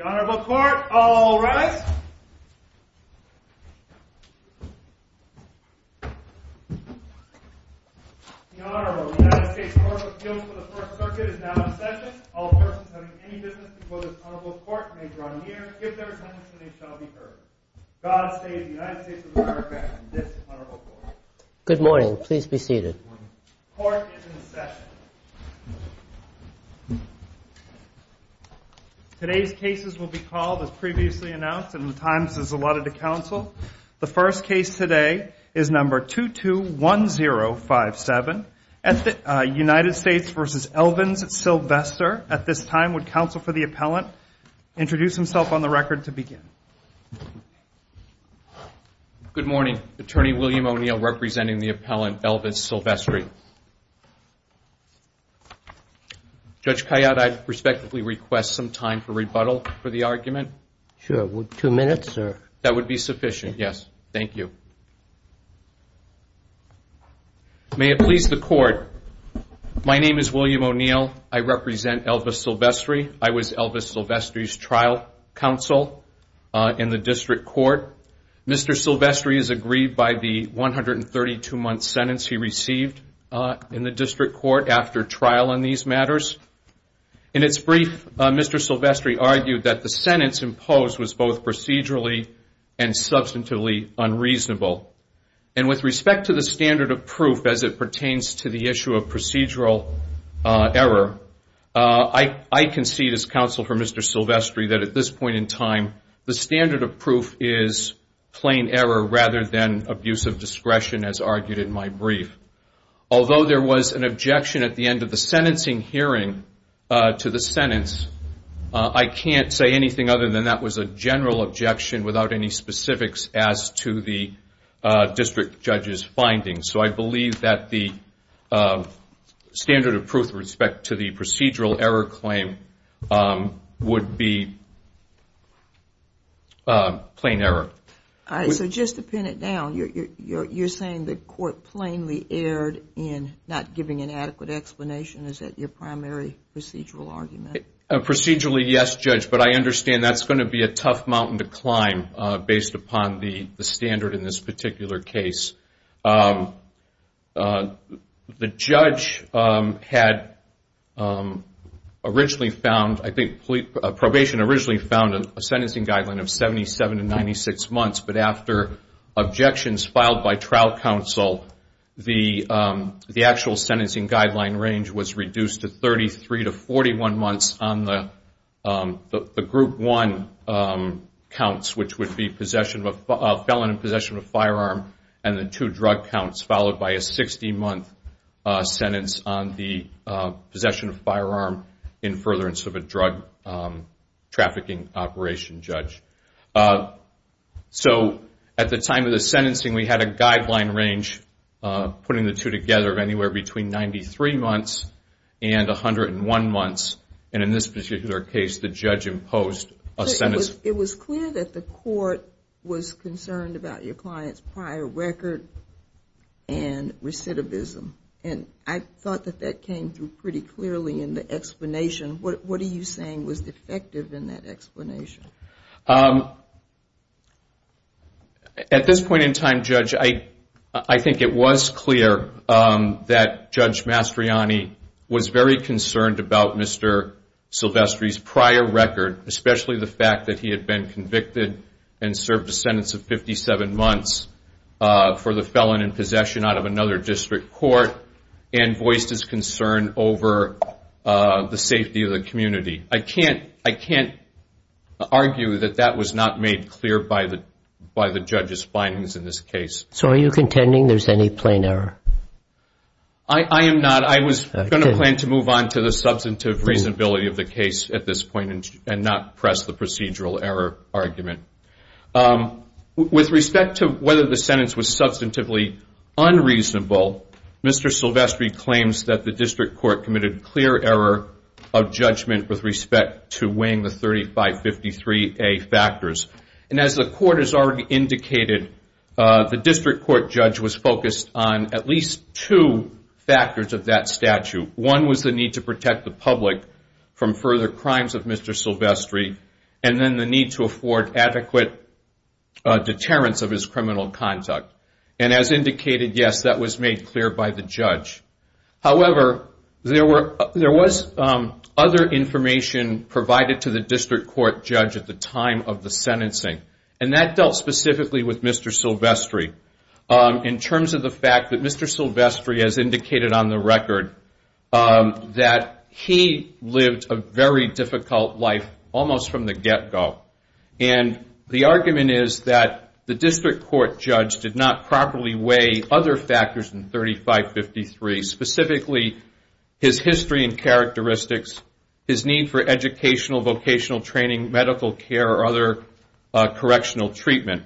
The Honorable Court, all rise. The Honorable United States Court of Appeals for the First Circuit is now in session. All persons having any business before this Honorable Court may draw near, give their sentence, and they shall be heard. God save the United States of America and this Honorable Court. Good morning. Please be seated. The Court is in session. Today's cases will be called, as previously announced, and the time is allotted to counsel. The first case today is number 221057, United States v. Elvins-Sylvestre. At this time, would counsel for the appellant introduce himself on the record to begin? Good morning. Attorney William O'Neill representing the appellant, Elvis Sylvestre. Judge Kayyad, I'd respectively request some time for rebuttal for the argument. Sure. Two minutes, sir. That would be sufficient, yes. Thank you. May it please the Court, my name is William O'Neill. I represent Elvis Sylvestre. I was Elvis Sylvestre's trial counsel in the district court. Mr. Sylvestre is aggrieved by the 132-month sentence he received in the district court after trial on these matters. In its brief, Mr. Sylvestre argued that the sentence imposed was both procedurally and substantively unreasonable. And with respect to the standard of proof as it pertains to the issue of procedural error, I concede as counsel for Mr. Sylvestre that at this point in time, the standard of proof is plain error rather than abuse of discretion as argued in my brief. Although there was an objection at the end of the sentencing hearing to the sentence, I can't say anything other than that was a general objection without any specifics as to the district judge's findings. So I believe that the standard of proof with respect to the procedural error claim would be plain error. So just to pin it down, you're saying the court plainly erred in not giving an adequate explanation? Is that your primary procedural argument? Procedurally, yes, Judge, but I understand that's going to be a tough mountain to climb based upon the standard in this particular case. The judge had originally found, I think probation originally found a sentencing guideline of 77 to 96 months, but after objections filed by trial counsel, the actual sentencing guideline range was reduced to 33 to 41 months on the group one counts, which would be felon in possession of a firearm and the two drug counts, followed by a 60-month sentence on the possession of a firearm in furtherance of a drug trafficking operation, Judge. So at the time of the sentencing, we had a guideline range, putting the two together, of anywhere between 93 months and 101 months, and in this particular case, the judge imposed a sentence. It was clear that the court was concerned about your client's prior record and recidivism, and I thought that that came through pretty clearly in the explanation. What are you saying was defective in that explanation? At this point in time, Judge, I think it was clear that Judge Mastrianni was very concerned about Mr. Silvestri's prior record, especially the fact that he had been convicted and served a sentence of 57 months for the felon in possession out of another district court and voiced his concern over the safety of the community. I can't argue that that was not made clear by the judge's findings in this case. So are you contending there's any plain error? I am not. I was going to plan to move on to the substantive reasonability of the case at this point and not press the procedural error argument. With respect to whether the sentence was substantively unreasonable, Mr. Silvestri claims that the district court committed clear error of judgment with respect to weighing the 3553A factors, and as the court has already indicated, the district court judge was focused on at least two factors of that statute. One was the need to protect the public from further crimes of Mr. Silvestri and then the need to afford adequate deterrence of his criminal conduct. And as indicated, yes, that was made clear by the judge. However, there was other information provided to the district court judge at the time of the sentencing, and that dealt specifically with Mr. Silvestri in terms of the fact that Mr. Silvestri has indicated on the record that he lived a very difficult life almost from the get-go. And the argument is that the district court judge did not properly weigh other factors in 3553, specifically his history and characteristics, his need for educational, vocational training, medical care, or other correctional treatment.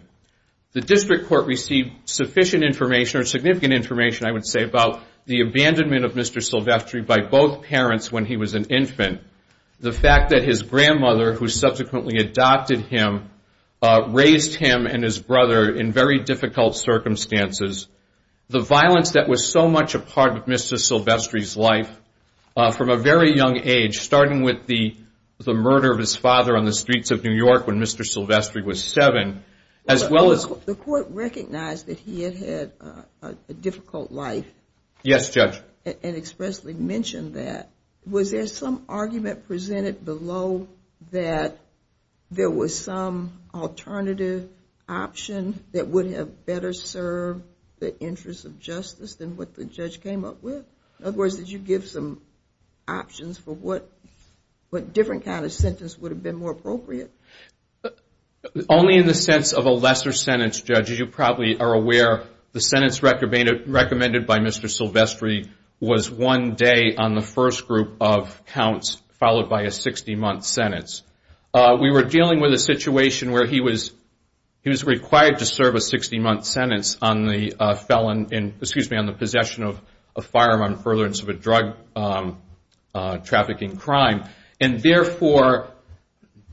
The district court received sufficient information, or significant information, I would say, about the abandonment of Mr. Silvestri by both parents when he was an infant. The fact that his grandmother, who subsequently adopted him, raised him and his brother in very difficult circumstances. The violence that was so much a part of Mr. Silvestri's life from a very young age, starting with the murder of his father on the streets of New York when Mr. Silvestri was seven, as well as... The court recognized that he had had a difficult life. Yes, Judge. And expressly mentioned that. Was there some argument presented below that there was some alternative option that would have better served the interests of justice than what the judge came up with? In other words, did you give some options for what different kind of sentence would have been more appropriate? Only in the sense of a lesser sentence, Judge. As you probably are aware, the sentence recommended by Mr. Silvestri was one day on the first group of counts, followed by a 60-month sentence. We were dealing with a situation where he was required to serve a 60-month sentence on the possession of firearm on furtherance of a drug-trafficking crime. And therefore,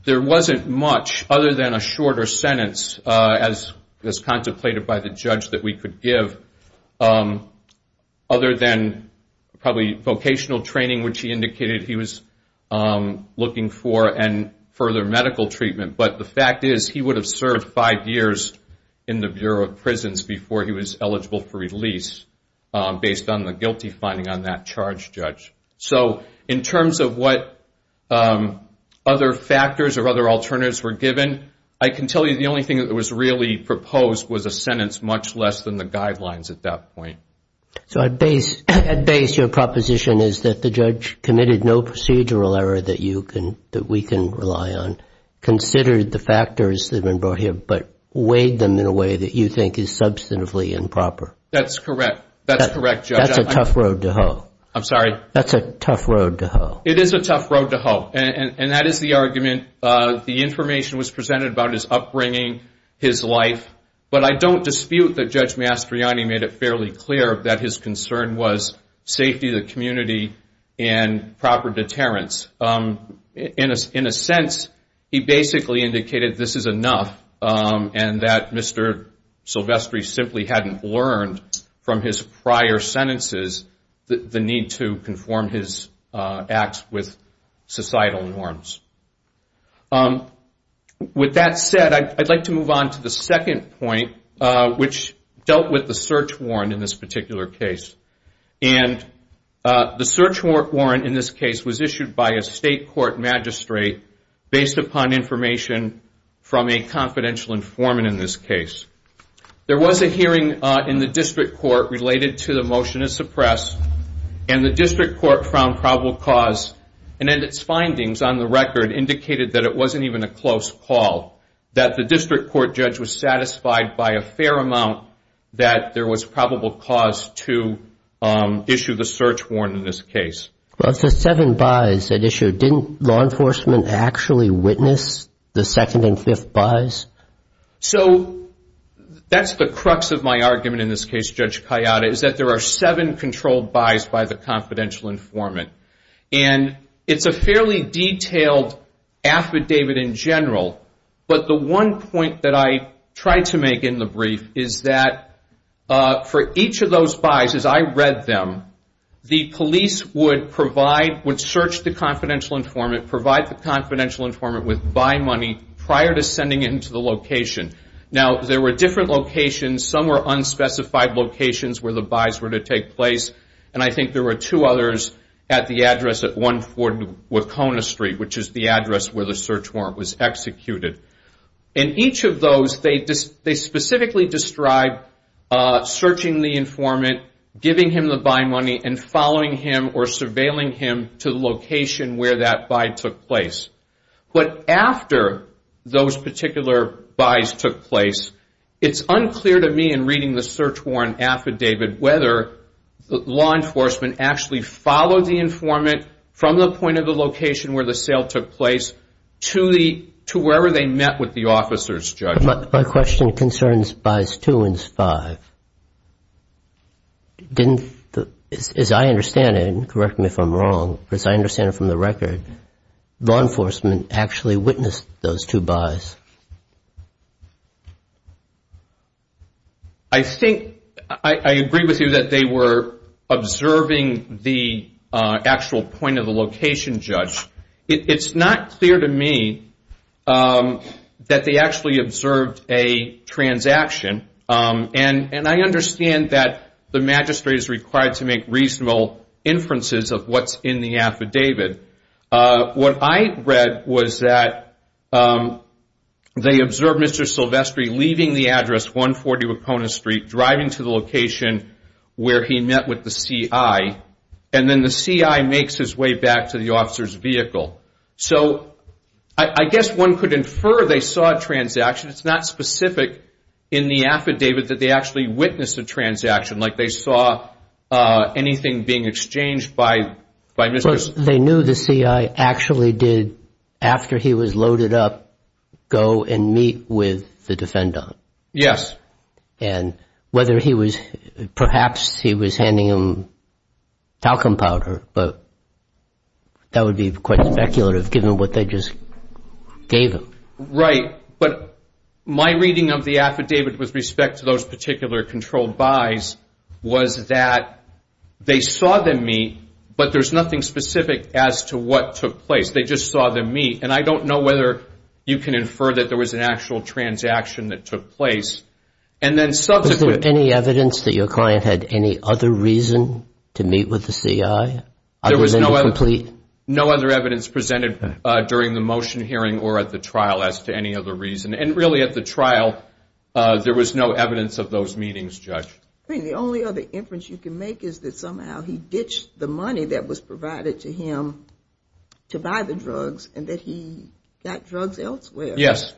there wasn't much other than a shorter sentence, as contemplated by the judge, that we could give, other than probably vocational training, which he indicated he was looking for, and further medical treatment. But the fact is, he would have served five years in the Bureau of Prisons before he was eligible for release, based on the guilty finding on that charge, Judge. So in terms of what other factors or other alternatives were given, I can tell you the only thing that was really proposed was a sentence much less than the guidelines at that point. So at base, your proposition is that the judge committed no procedural error that we can rely on, considered the factors that have been brought here, but weighed them in a way that you think is substantively improper. That's correct, Judge. That's a tough road to hoe. I'm sorry? That's a tough road to hoe. It is a tough road to hoe, and that is the argument. The information was presented about his upbringing, his life, but I don't dispute that Judge Mastriani made it fairly clear that his concern was safety, the community, and proper deterrence. In a sense, he basically indicated this is enough, and that Mr. Silvestri simply hadn't learned from his prior sentences the need to conform his acts with societal norms. With that said, I'd like to move on to the second point, which dealt with the search warrant in this particular case. And the search warrant in this case was issued by a state court magistrate based upon information from a confidential informant in this case. There was a hearing in the district court related to the motion to suppress, and the district court found probable cause, and in its findings on the record indicated that it wasn't even a close call, that the district court judge was satisfied by a fair amount that there was probable cause to issue the search warrant in this case. Well, it's the seven buys that issued. Didn't law enforcement actually witness the second and fifth buys? So that's the crux of my argument in this case, Judge Kayada, is that there are seven controlled buys by the confidential informant. And it's a fairly detailed affidavit in general, but the one point that I tried to make in the brief is that for each of those buys, as I read them, the police would provide, would search the confidential informant, would provide the confidential informant with buy money prior to sending him to the location. Now, there were different locations. Some were unspecified locations where the buys were to take place, and I think there were two others at the address at 140 Wacona Street, which is the address where the search warrant was executed. In each of those, they specifically described searching the informant, giving him the buy money, and following him or surveilling him to the location where that buy took place. But after those particular buys took place, it's unclear to me in reading the search warrant affidavit whether law enforcement actually followed the informant from the point of the location where the sale took place to wherever they met with the officers, Judge. My question concerns buys two and five. As I understand it, and correct me if I'm wrong, but as I understand it from the record, law enforcement actually witnessed those two buys. I think I agree with you that they were observing the actual point of the location, Judge. It's not clear to me that they actually observed a transaction, and I understand that the magistrate is required to make reasonable inferences of what's in the affidavit. What I read was that they observed Mr. Silvestri leaving the address, 140 Wacona Street, driving to the location where he met with the CI, and then the CI makes his way back to the officer's vehicle. So I guess one could infer they saw a transaction. It's not specific in the affidavit that they actually witnessed a transaction, like they saw anything being exchanged by Mr. Silvestri. They knew the CI actually did, after he was loaded up, go and meet with the defendant. Yes. And whether he was, perhaps he was handing him talcum powder, but that would be quite speculative given what they just gave him. Right. But my reading of the affidavit with respect to those particular controlled buys was that they saw them meet, but there's nothing specific as to what took place. They just saw them meet, and I don't know whether you can infer that there was an actual transaction that took place. Was there any evidence that your client had any other reason to meet with the CI? There was no other evidence presented during the motion hearing or at the trial as to any other reason, and really at the trial there was no evidence of those meetings, Judge. The only other inference you can make is that somehow he ditched the money that was provided to him to buy the drugs and that he got drugs elsewhere. Yes.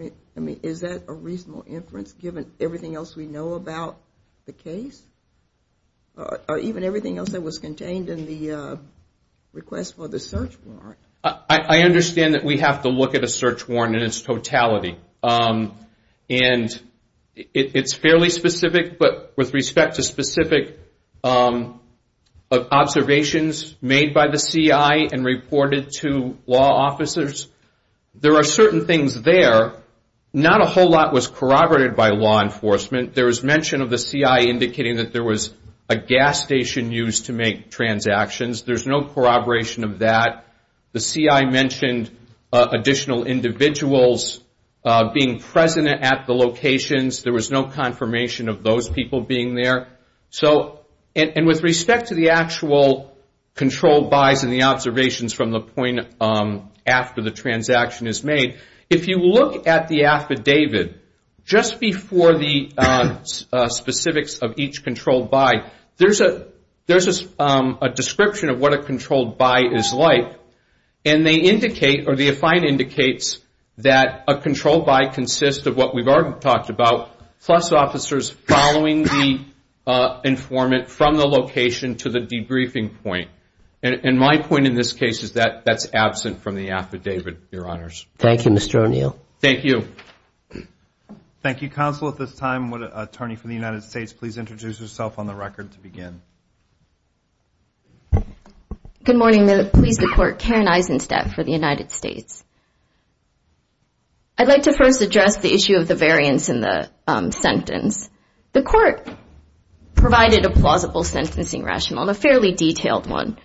I mean, is that a reasonable inference given everything else we know about the case? Or even everything else that was contained in the request for the search warrant? I understand that we have to look at a search warrant in its totality, and it's fairly specific, but with respect to specific observations made by the CI and reported to law officers, there are certain things there. Not a whole lot was corroborated by law enforcement. There was mention of the CI indicating that there was a gas station used to make transactions. There's no corroboration of that. The CI mentioned additional individuals being present at the locations. There was no confirmation of those people being there. And with respect to the actual controlled buys and the observations from the point after the transaction is made, if you look at the affidavit just before the specifics of each controlled buy, there's a description of what a controlled buy is like. And they indicate, or the affine indicates, that a controlled buy consists of what we've already talked about plus officers following the informant from the location to the debriefing point. And my point in this case is that that's absent from the affidavit, Your Honors. Thank you, Mr. O'Neill. Thank you. Thank you, Counsel. At this time, would an attorney for the United States please introduce herself on the record to begin? Good morning. I'm pleased to report Karen Eisenstadt for the United States. I'd like to first address the issue of the variance in the sentence. The court provided a plausible sentencing rationale, and a fairly detailed one.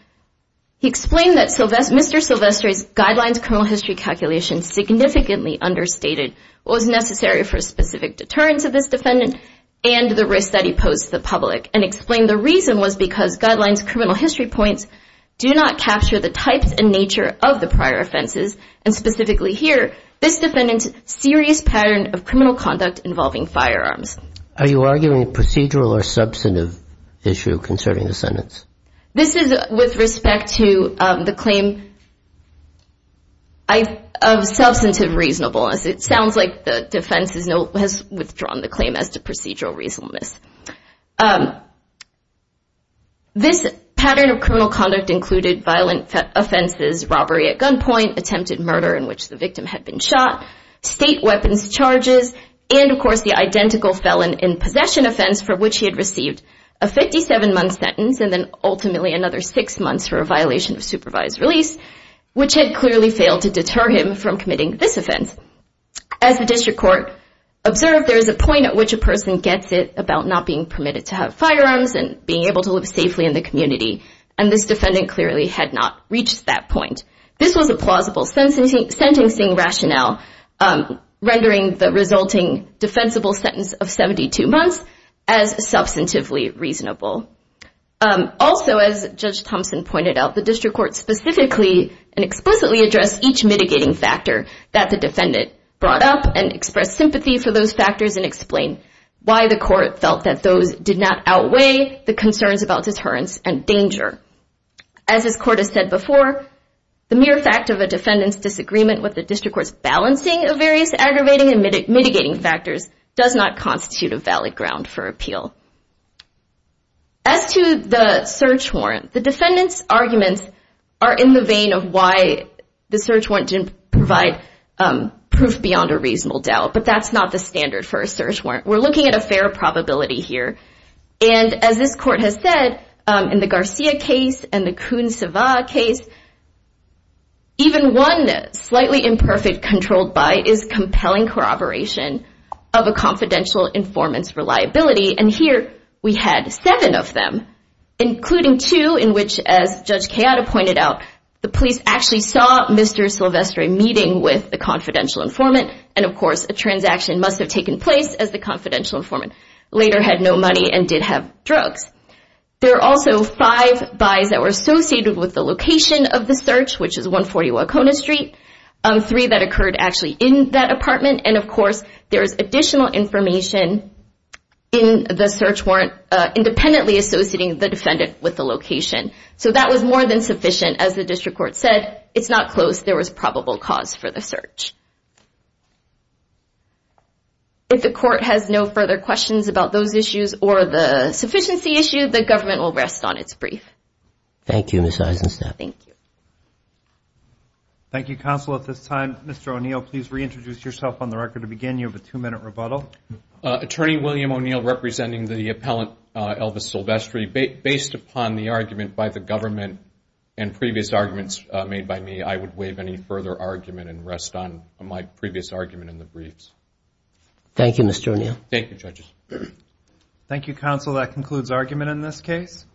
He explained that Mr. Silvestre's Guidelines Criminal History calculation significantly understated what was necessary for a specific deterrence of this defendant and the risk that he posed to the public and explained the reason was because Guidelines Criminal History points do not capture the types and nature of the prior offenses, and specifically here, this defendant's serious pattern of criminal conduct involving firearms. Are you arguing a procedural or substantive issue concerning the sentence? This is with respect to the claim of substantive reasonableness. It sounds like the defense has withdrawn the claim as to procedural reasonableness. This pattern of criminal conduct included violent offenses, robbery at gunpoint, attempted murder in which the victim had been shot, state weapons charges, and, of course, the identical felon in possession offense for which he had received a 57-month sentence and then ultimately another six months for a violation of supervised release, which had clearly failed to deter him from committing this offense. As the district court observed, there is a point at which a person gets it about not being permitted to have firearms and being able to live safely in the community, and this defendant clearly had not reached that point. This was a plausible sentencing rationale, rendering the resulting defensible sentence of 72 months as substantively reasonable. Also, as Judge Thompson pointed out, the district court specifically and explicitly addressed each mitigating factor that the defendant brought up and expressed sympathy for those factors and explained why the court felt that those did not outweigh the concerns about deterrence and danger. As this court has said before, the mere fact of a defendant's disagreement with the district court's balancing of various aggravating and mitigating factors does not constitute a valid ground for appeal. As to the search warrant, the defendant's arguments are in the vein of why the search warrant didn't provide proof beyond a reasonable doubt, but that's not the standard for a search warrant. We're looking at a fair probability here, and as this court has said, in the Garcia case and the Coon-Savah case, even one slightly imperfect controlled buy is compelling corroboration of a confidential informant's reliability, and here we had seven of them, including two in which, as Judge Chioda pointed out, the police actually saw Mr. Silvestri meeting with the confidential informant, and, of course, a transaction must have taken place as the confidential informant later had no money and did have drugs. There are also five buys that were associated with the location of the search, which is 140 Wacona Street, three that occurred actually in that apartment, and, of course, there is additional information in the search warrant independently associating the defendant with the location. So that was more than sufficient. As the district court said, it's not close. There was probable cause for the search. If the court has no further questions about those issues or the sufficiency issue, the government will rest on its brief. Thank you, Ms. Eisenstadt. Thank you. Thank you, counsel. At this time, Mr. O'Neill, please reintroduce yourself on the record. To begin, you have a two-minute rebuttal. Attorney William O'Neill representing the appellant Elvis Silvestri. Based upon the argument by the government and previous arguments made by me, I would waive any further argument and rest on my previous argument in the briefs. Thank you, Mr. O'Neill. Thank you, judges. Thank you, counsel. That concludes argument in this case.